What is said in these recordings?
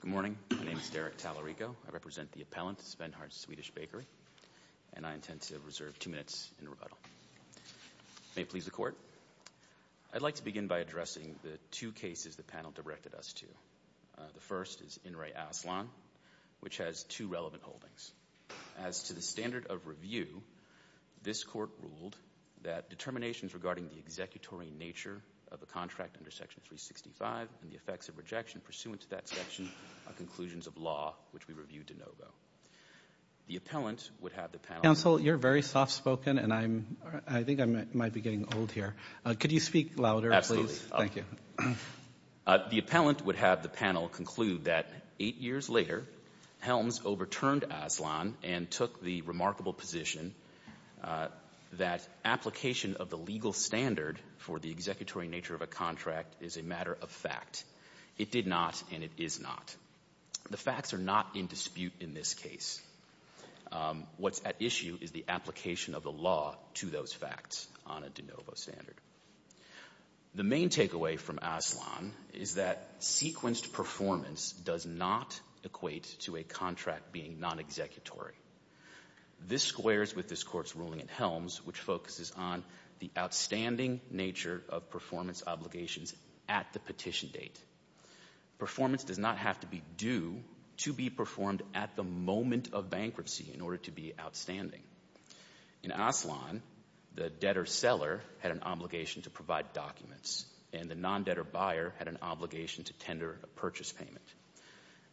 Good morning. My name is Derek Tallarico. I represent the appellant, Svenhard's Swedish Bakery, and I intend to reserve two minutes in rebuttal. May it please the Court. I'd like to begin by addressing the two cases the panel directed us to. The first is In re Aslan, which has two relevant holdings. As to the standard of review, this Court ruled that determinations regarding the conclusions of law, which we reviewed de novo. The appellant would have the panel Counsel, you're very soft-spoken, and I think I might be getting old here. Could you speak louder, please? Absolutely. Thank you. The appellant would have the panel conclude that eight years later, Helms overturned Aslan and took the remarkable position that application of the legal standard for the non-executory nature of a contract is a matter of fact. It did not, and it is not. The facts are not in dispute in this case. What's at issue is the application of the law to those facts on a de novo standard. The main takeaway from Aslan is that sequenced performance does not equate to a contract being non-executory. This squares with this Court's ruling at Helms, which focuses on the outstanding nature of performance obligations at the petition date. Performance does not have to be due to be performed at the moment of bankruptcy in order to be outstanding. In Aslan, the debtor-seller had an obligation to provide documents, and the non-debtor-buyer had an obligation to tender a purchase payment.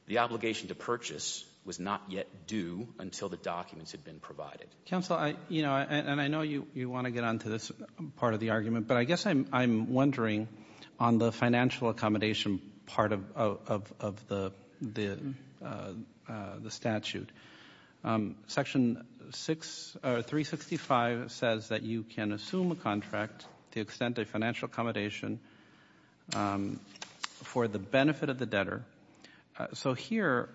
The obligation to purchase was not yet due until the documents had been provided. Roberts. Counsel, you know, and I know you want to get onto this part of the argument, but I guess I'm wondering on the financial accommodation part of the statute. Section 365 says that you can assume a contract to extend a financial accommodation for the benefit of the debtor. So here,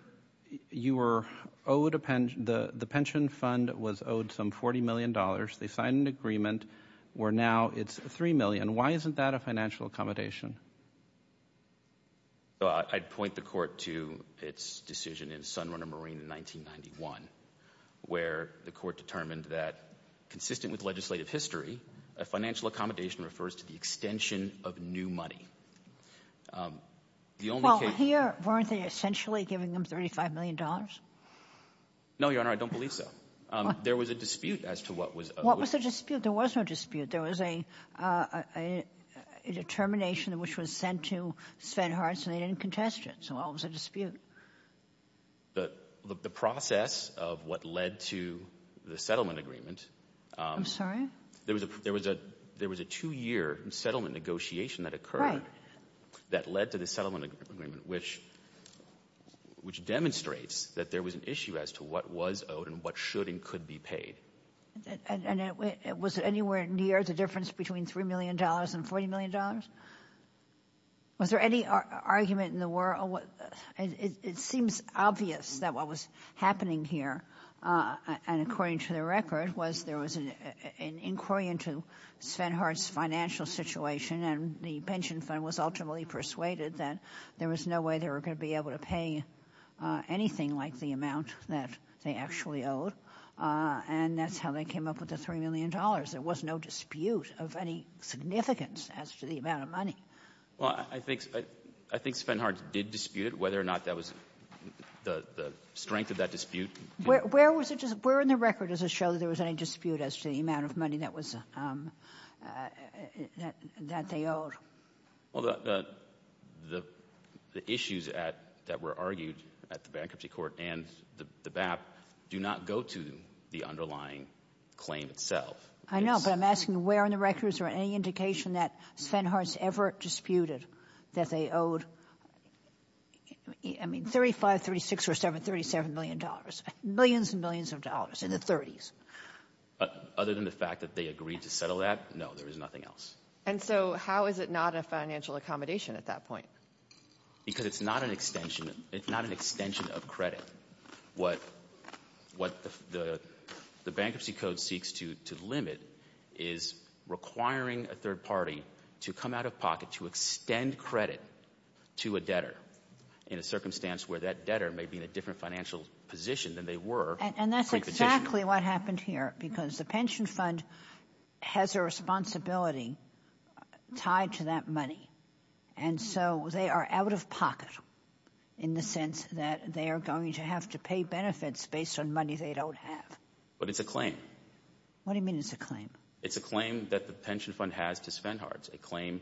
you were owed a pension. The pension fund was owed some $40 million. They signed an agreement where now it's $3 million. Why isn't that a financial accommodation? I'd point the Court to its decision in Sunrunner Marine in 1991, where the Court determined that, consistent with legislative history, a financial accommodation refers to the extension of new money. The only case... Well, here, weren't they essentially giving them $35 million? No, Your Honor, I don't believe so. There was a dispute as to what was... What was the dispute? There was no dispute. There was a determination which was sent to Sven Hartz, and they didn't contest it. So what was the dispute? The process of what led to the settlement agreement. I'm sorry? There was a two-year settlement negotiation that occurred that led to the settlement agreement, which demonstrates that there was an issue as to what was owed and what should and could be paid. And was it anywhere near the difference between $3 million and $40 million? Was there any argument in the world? It seems obvious that what was happening here, and according to the record, was there was an inquiry into Sven Hartz's financial situation, and the pension fund was ultimately persuaded that there was no way they were going to be able to pay anything like the amount that they actually owed, and that's how they came up with the $3 million. There was no dispute of any significance as to the amount of money. Well, I think Sven Hartz did dispute it, whether or not that was the strength of that dispute. Where in the record does it show that there was any dispute as to the amount of money that was that they owed? Well, the issues that were argued at the claim itself. I know, but I'm asking where in the record is there any indication that Sven Hartz ever disputed that they owed, I mean, $35, $36, or $37 million, millions and millions of dollars in the 30s? Other than the fact that they agreed to settle that, no, there is nothing else. And so how is it not a financial accommodation at that point? Because it's not an extension. It's not an extension of credit. What the Bankruptcy Code seeks to limit is requiring a third party to come out of pocket to extend credit to a debtor in a circumstance where that debtor may be in a different financial position than they were And that's exactly what happened here, because the pension fund has a responsibility tied to that money. And so they are out of pocket in the sense that they are going to have to pay benefits based on money they don't have. But it's a claim. What do you mean it's a claim? It's a claim that the pension fund has to Sven Hartz, a claim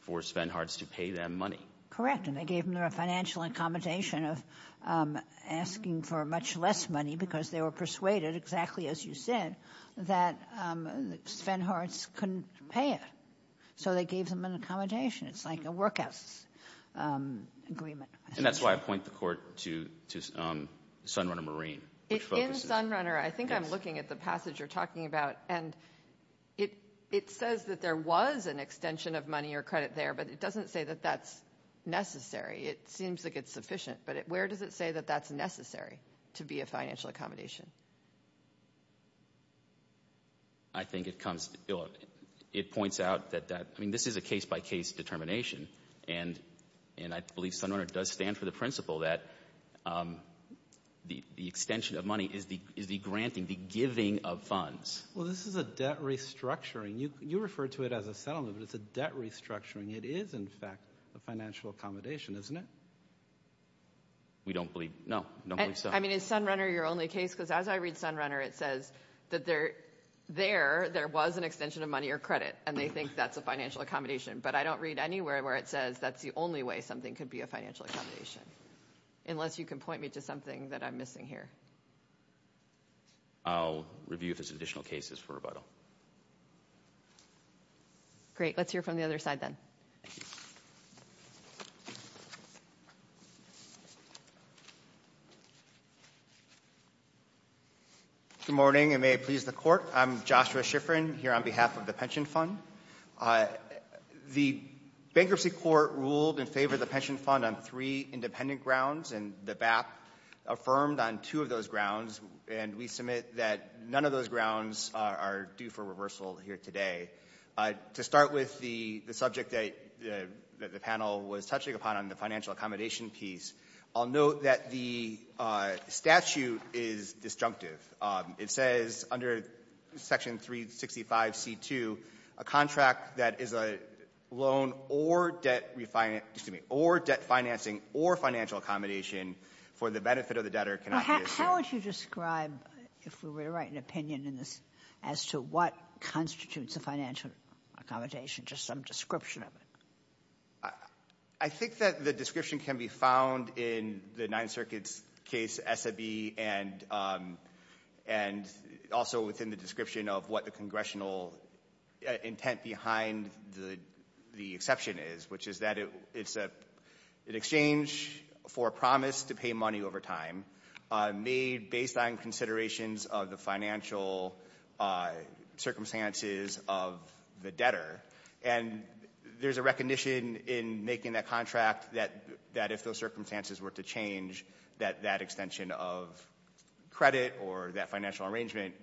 for Sven Hartz to pay them money. Correct. And they gave them their financial accommodation of asking for much less money because they were persuaded, exactly as you said, that Sven Hartz couldn't pay it. So they gave them an accommodation. It's like a workhouse agreement. And that's why I point the Court to Sunrunner Marine, which focuses In Sunrunner, I think I'm looking at the passage you're talking about, and it says that there was an extension of money or credit there, but it doesn't say that that's necessary. It seems like it's sufficient, but where does it say that that's necessary to be a financial accommodation? I think it points out that this is a case-by-case determination, and I believe Sunrunner does stand for the principle that the extension of money is the granting, the giving of funds. Well, this is a debt restructuring. You referred to it as a settlement, but it's a debt restructuring. It is, in fact, a financial accommodation, isn't it? We don't believe so. No, we don't believe so. I mean, is Sunrunner your only case? Because as I read Sunrunner, it says that there was an extension of money or credit, and they think that's a financial accommodation. But I don't read anywhere where it says that's the only way something could be a financial accommodation, unless you can point me to something that I'm missing here. I'll review if there's additional cases for rebuttal. Great. Let's hear from the other side then. Good morning, and may it please the Court. I'm Joshua Shiffrin here on behalf of the Pension Fund. The Bankruptcy Court ruled in favor of the Pension Fund on three independent grounds, and the BAP affirmed on two of those grounds, and we submit that none of those grounds are due for reversal here today. To start with the subject that the panel was touching upon on the financial accommodation piece, I'll note that the statute is disjunctive. It says under Section 365C2, a contract that is a loan or debt refinance or debt financing or financial accommodation for the benefit of the debtor cannot be assumed. How would you describe, if we were to write an opinion in this, as to what constitutes a financial accommodation, just some description of it? I think that the description can be found in the Ninth Circuit's case, SAB, and also within the description of what the congressional intent behind the exception is, which is that it's an exchange for a promise to pay money over time made based on considerations of the financial circumstances of the debtor, and there's a recognition in making that contract that if those circumstances were to change, that that extension of credit or that financial arrangement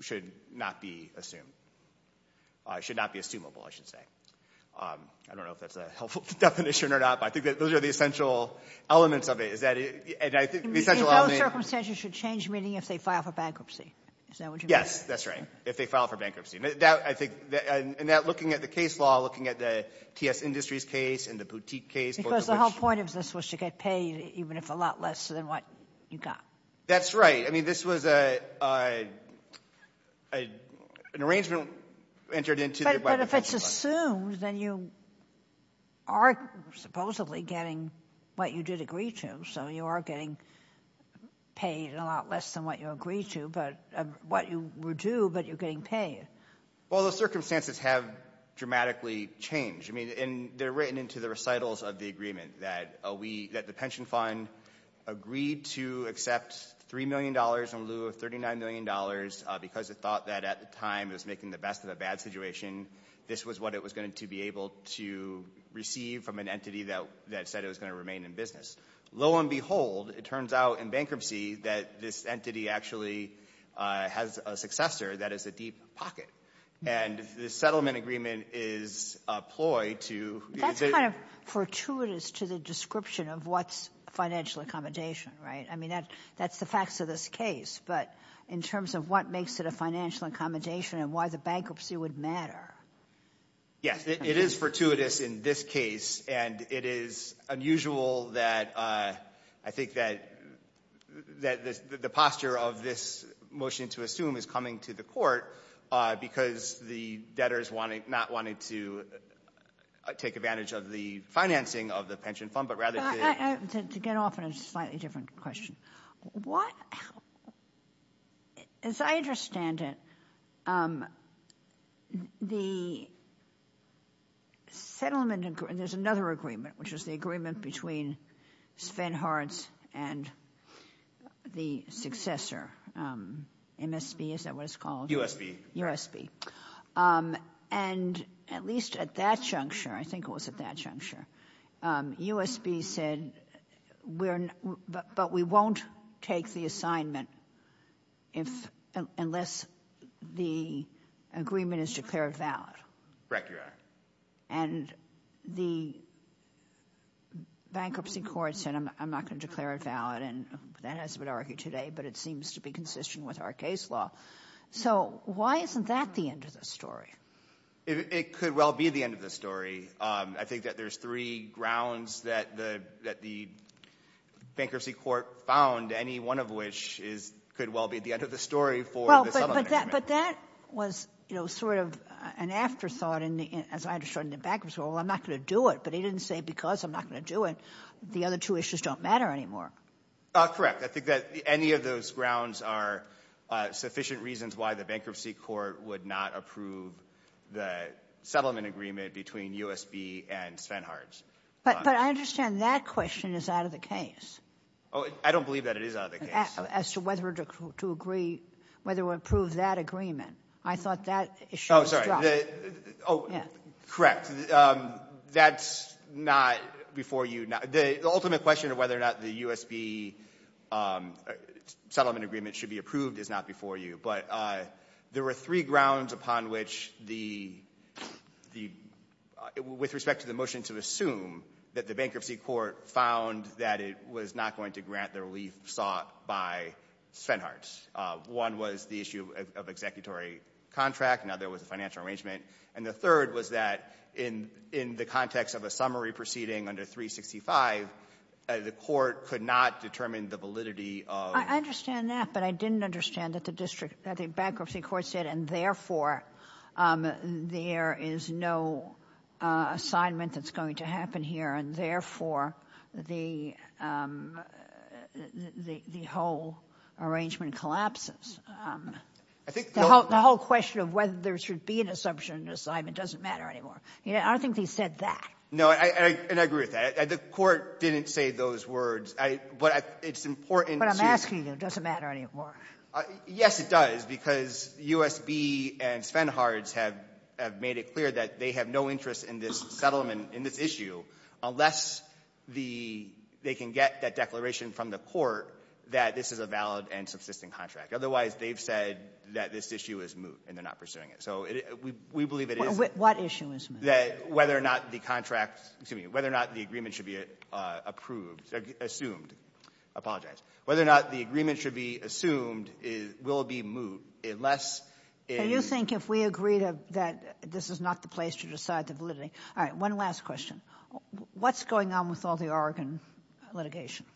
should not be assumed. It should not be assumable, I should say. I don't know if that's a helpful definition or not, but I think that those are the essential elements of it. Is that it? And I think the essential element— If those circumstances should change, meaning if they file for bankruptcy. Is that what you mean? Yes, that's right. If they file for bankruptcy. And that, looking at the case law, looking at the TS Industries case and the Boutique case— Because the whole point of this was to get paid, even if a lot less than what you got. That's right. I mean, this was an arrangement entered into by the Federal Reserve. But if it's assumed, then you are supposedly getting what you did agree to, so you are getting paid a lot less than what you agreed to, but what you were due, but you're getting paid. Well, those circumstances have dramatically changed, and they're written into the recitals of the agreement that the pension fund agreed to accept $3 million in lieu of $39 million because it thought that at the time it was making the best of a bad situation. This was what it was going to be able to receive from an entity that said it was going to remain in business. Lo and behold, it turns out in bankruptcy that this entity actually has a successor that is a deep pocket. And the settlement agreement is a ploy to— That's kind of fortuitous to the description of what's financial accommodation, right? I mean, that's the facts of this case. But in terms of what makes it a financial accommodation and why the bankruptcy would matter— Yes. It is fortuitous in this case, and it is unusual that I think that the posture of this motion to assume is coming to the court because the debtors not wanting to take advantage of the financing of the pension fund but rather to— To get off on a slightly different question, what—as I understand it, the settlement—there's another agreement, which is the agreement between Sven Hards and the successor, MSB, is that what it's called? USB. And at least at that juncture—I think it was at that juncture—USB said, but we won't take the assignment unless the agreement is declared valid. And the bankruptcy court said, I'm not going to declare it valid, and that hasn't been argued today, but it seems to be consistent with our case law. So why isn't that the end of the story? It could well be the end of the story. I think that there's three grounds that the bankruptcy court found, any one of which could well be the end of the story for the settlement agreement. But that was sort of an afterthought, as I understand it, in the bankruptcy. Well, I'm not going to do it, but he didn't say because I'm not going to do it, the other two issues don't matter anymore. Correct. I think that any of those grounds are sufficient reasons why the bankruptcy court would not approve the settlement agreement between USB and Sven Hards. But I understand that question is out of the case. I don't believe that it is out of the case. As to whether to agree, whether to approve that agreement. I thought that issue was dropped. Correct. That's not before you. The ultimate question of whether or not the USB settlement agreement should be approved is not before you. But there were three grounds upon which the, with respect to the motion to assume that the bankruptcy court found that it was not going to grant the relief sought by Sven Hards. One was the issue of executory contract. Another was the financial arrangement. And the third was that in the context of a summary proceeding under 365, the court could not determine the validity of the agreement. I understand that, but I didn't understand that the district, that the bankruptcy court said, and therefore, there is no assignment that's going to happen here, and therefore, the whole arrangement collapses. The whole question of whether there should be an assumption assignment doesn't matter anymore. I don't think they said that. And I agree with that. The court didn't say those words. But it's important to you. But I'm asking you. It doesn't matter anymore. Yes, it does, because USB and Sven Hards have made it clear that they have no interest in this settlement, in this issue, unless the they can get that declaration from the court that this is a valid and subsisting contract. Otherwise, they've said that this issue is moot, and they're not pursuing it. So we believe it is. What issue is moot? Whether or not the contract, excuse me, whether or not the agreement should be approved or assumed. Apologize. Whether or not the agreement should be assumed will be moot unless it is. Do you think if we agree that this is not the place to decide the validity. All right. One last question. What's going on with all the Oregon litigation?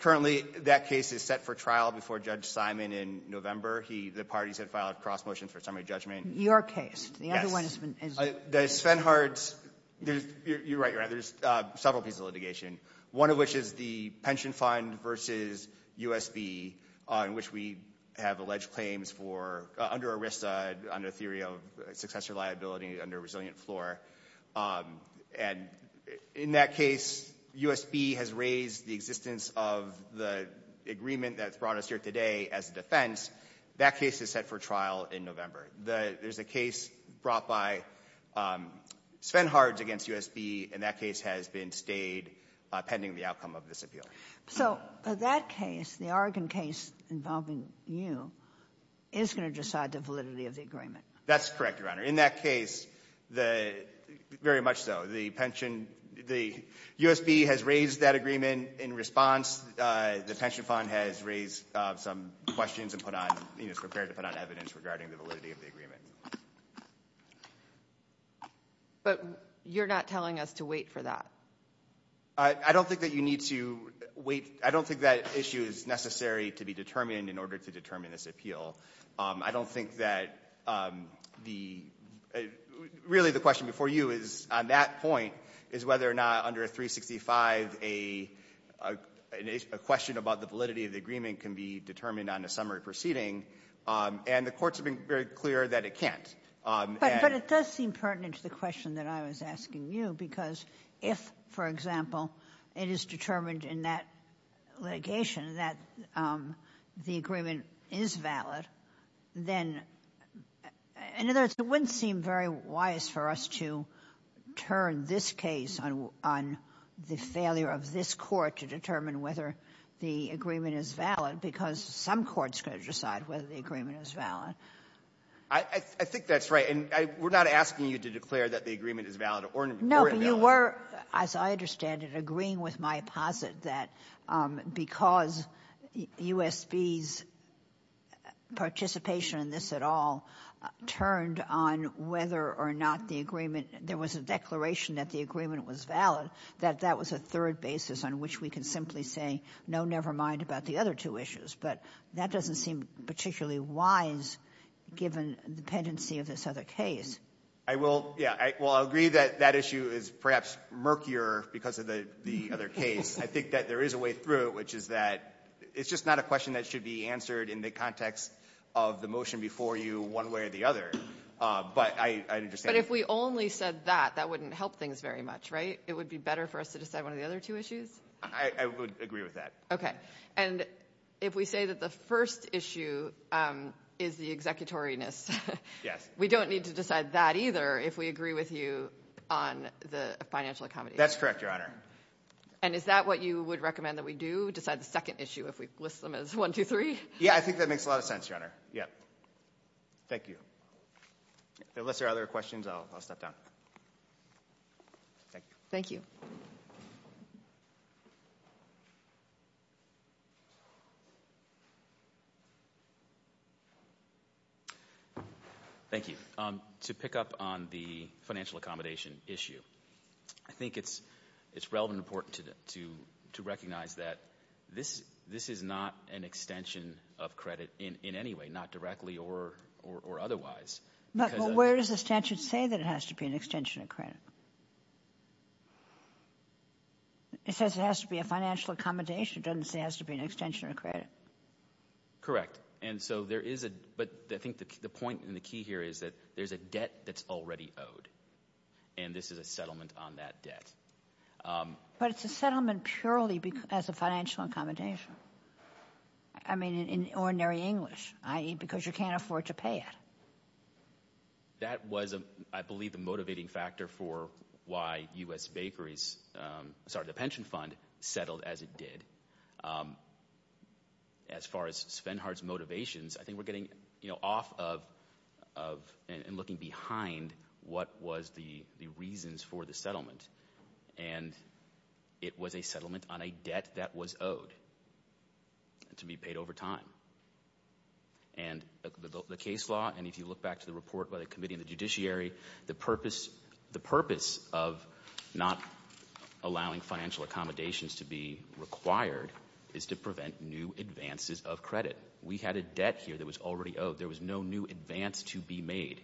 Currently, that case is set for trial before Judge Simon in November. The parties have filed cross motions for summary judgment. Your case. Yes. The other one has been. The Sven Hards, you're right, you're right, there's several pieces of litigation, one of which is the pension fund versus USB, in which we have alleged claims for, under ERISA, under theory of successor liability, under resilient floor. And in that case, USB has raised the existence of the agreement that's brought us here today as a defense. That case is set for trial in November. There's a case brought by Sven Hards against USB, and that case has been stayed pending the outcome of this appeal. So that case, the Oregon case involving you, is going to decide the validity of the That's correct, Your Honor. In that case, very much so. The pension, the USB has raised that agreement in response. The pension fund has raised some questions and prepared to put on evidence regarding the validity of the agreement. But you're not telling us to wait for that. I don't think that you need to wait. I don't think that issue is necessary to be determined in order to determine this appeal. I don't think that the really the question before you is, on that point, is whether or not under 365 a question about the validity of the agreement can be determined on a summary proceeding. And the Court's been very clear that it can't. But it does seem pertinent to the question that I was asking you, because if, for example, it is determined in that litigation that the agreement is valid, that then, in other words, it wouldn't seem very wise for us to turn this case on the failure of this Court to determine whether the agreement is valid, because some courts could decide whether the agreement is valid. I think that's right. And we're not asking you to declare that the agreement is valid or invalid. No, but you were, as I understand it, agreeing with my posit that because USB's participation in this at all turned on whether or not the agreement, there was a declaration that the agreement was valid, that that was a third basis on which we can simply say, no, never mind about the other two issues. But that doesn't seem particularly wise, given dependency of this other case. I will agree that that issue is perhaps murkier because of the other case. I think that there is a way through it, which is that it's just not a question that should be answered in the context of the motion before you one way or the other. But I understand. But if we only said that, that wouldn't help things very much, right? It would be better for us to decide one of the other two issues? I would agree with that. Okay. And if we say that the first issue is the executoriness, we don't need to decide that either if we agree with you on the financial accommodation. That's correct, Your Honor. And is that what you would recommend that we do? Decide the second issue if we list them as one, two, three? Yeah, I think that makes a lot of sense, Your Honor. Yeah. Thank you. Unless there are other questions, I'll step down. Thank you. Thank you. Thank you. To pick up on the financial accommodation issue, I think it's relevant and important to recognize that this is not an extension of credit in any way, not directly or otherwise. But where does the statute say that it has to be an extension of credit? It says it has to be a financial accommodation. It doesn't say it has to be an extension of credit. Correct. But I think the point and the key here is that there's a debt that's already owed, and this is a settlement on that debt. But it's a settlement purely as a financial accommodation. I mean, in ordinary English, i.e., because you can't afford to pay it. That was, I believe, the motivating factor for why the pension fund settled as it did. As far as Svenhardt's motivations, I think we're getting off of and looking behind what was the reasons for the settlement. And it was a settlement on a debt that was owed to be paid over time. And the case law, and if you look back to the report by the committee and the judiciary, the purpose of not allowing financial accommodations to be required is to prevent new advances of credit. We had a debt here that was already owed. There was no new advance to be made.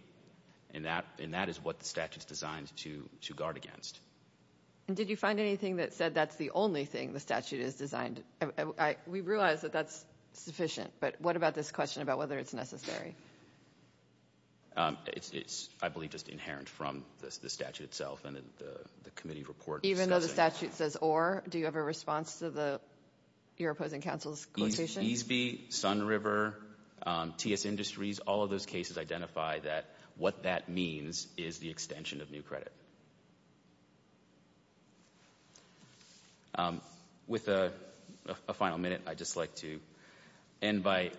And that is what the statute's designed to guard against. And did you find anything that said that's the only thing the statute has designed? We realize that that's sufficient, but what about this question about whether it's necessary? It's, I believe, just inherent from the statute itself and the committee report. Even though the statute says or, do you have a response to your opposing counsel's quotation? Easby, Sunriver, TS Industries, all of those cases identify that what that means is the extension of new credit. With a final minute, I'd just like to invite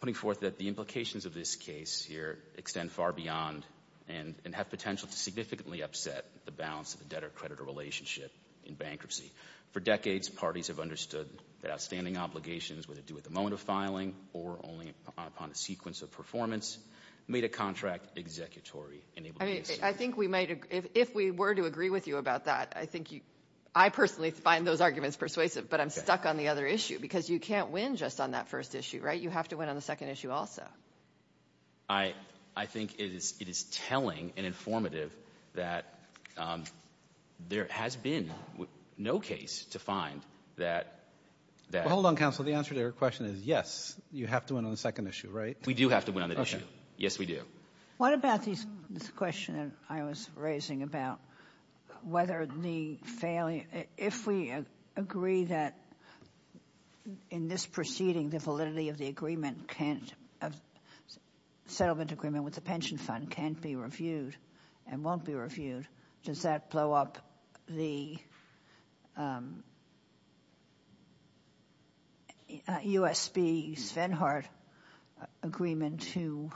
putting forth that the implications of this case here extend far beyond and have potential to significantly upset the balance of the debtor-creditor relationship in bankruptcy. For decades, parties have understood that outstanding obligations, whether due at the moment of filing or only upon a sequence of performance, made a contract executory. I think we might, if we were to agree with you about that, I personally find those arguments persuasive, but I'm stuck on the other issue because you can't win just on that first issue, right? You have to win on the second issue also. I think it is telling and informative that there has been no case to find that that — Well, hold on, counsel. The answer to your question is yes, you have to win on the second issue, right? We do have to win on that issue. Yes, we do. What about this question I was raising about whether the failing — if we agree that in this proceeding the validity of the settlement agreement with the pension fund can't be reviewed and won't be reviewed, does that blow up the U.S.B. Svenhardt agreement to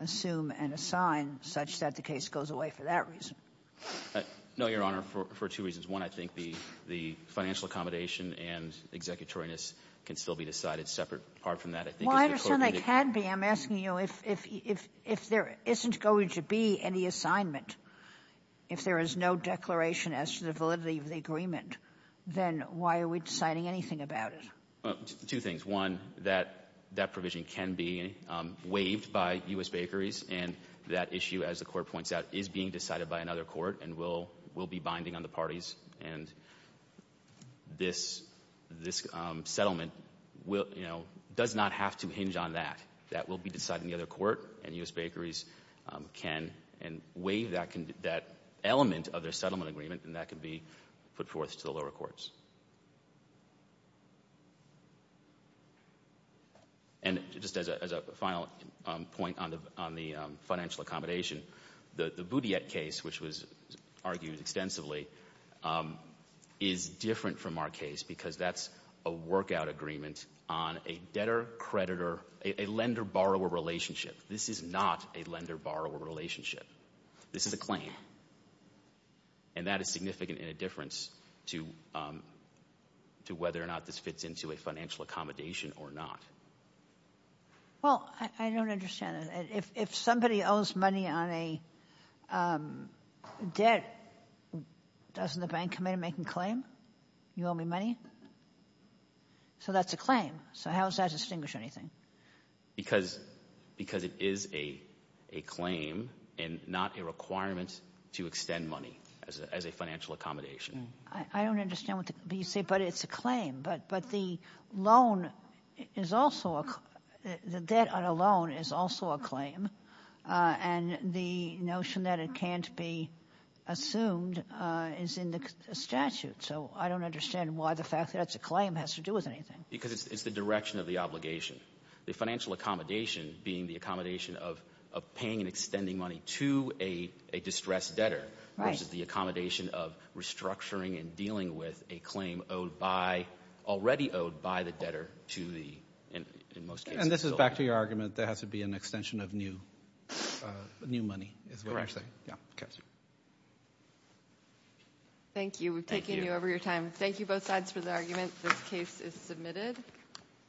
assume and assign such that the case goes away for that reason? No, Your Honor, for two reasons. One, I think the financial accommodation and executoriness can still be decided separate apart from that. I think as the Court — Well, I understand they can be. I'm asking you if there isn't going to be any assignment, if there is no declaration as to the validity of the agreement, then why are we deciding anything about it? Two things. One, that provision can be waived by U.S. Bakeries, and that issue, as the Court And this settlement does not have to hinge on that. That will be decided in the other court, and U.S. Bakeries can waive that element of their settlement agreement, and that can be put forth to the lower courts. And just as a final point on the financial accommodation, the Boudiette case, which was argued extensively, is different from our case because that's a workout agreement on a debtor-creditor, a lender-borrower relationship. This is not a lender-borrower relationship. This is a claim, and that is significant in a difference to whether or not this fits into a financial accommodation or not. Well, I don't understand that. If somebody owes money on a debt, doesn't the bank come in and make a claim? You owe me money? So that's a claim. So how does that distinguish anything? Because it is a claim and not a requirement to extend money as a financial accommodation. I don't understand what you say, but it's a claim. But the loan is also a claim. The debt on a loan is also a claim, and the notion that it can't be assumed is in the statute. So I don't understand why the fact that that's a claim has to do with anything. Because it's the direction of the obligation. The financial accommodation being the accommodation of paying and extending money to a distressed debtor versus the accommodation of restructuring and dealing with a claim already owed by the debtor. And this is back to your argument that there has to be an extension of new money. Thank you. We've taken you over your time. Thank you both sides for the argument. This case is submitted.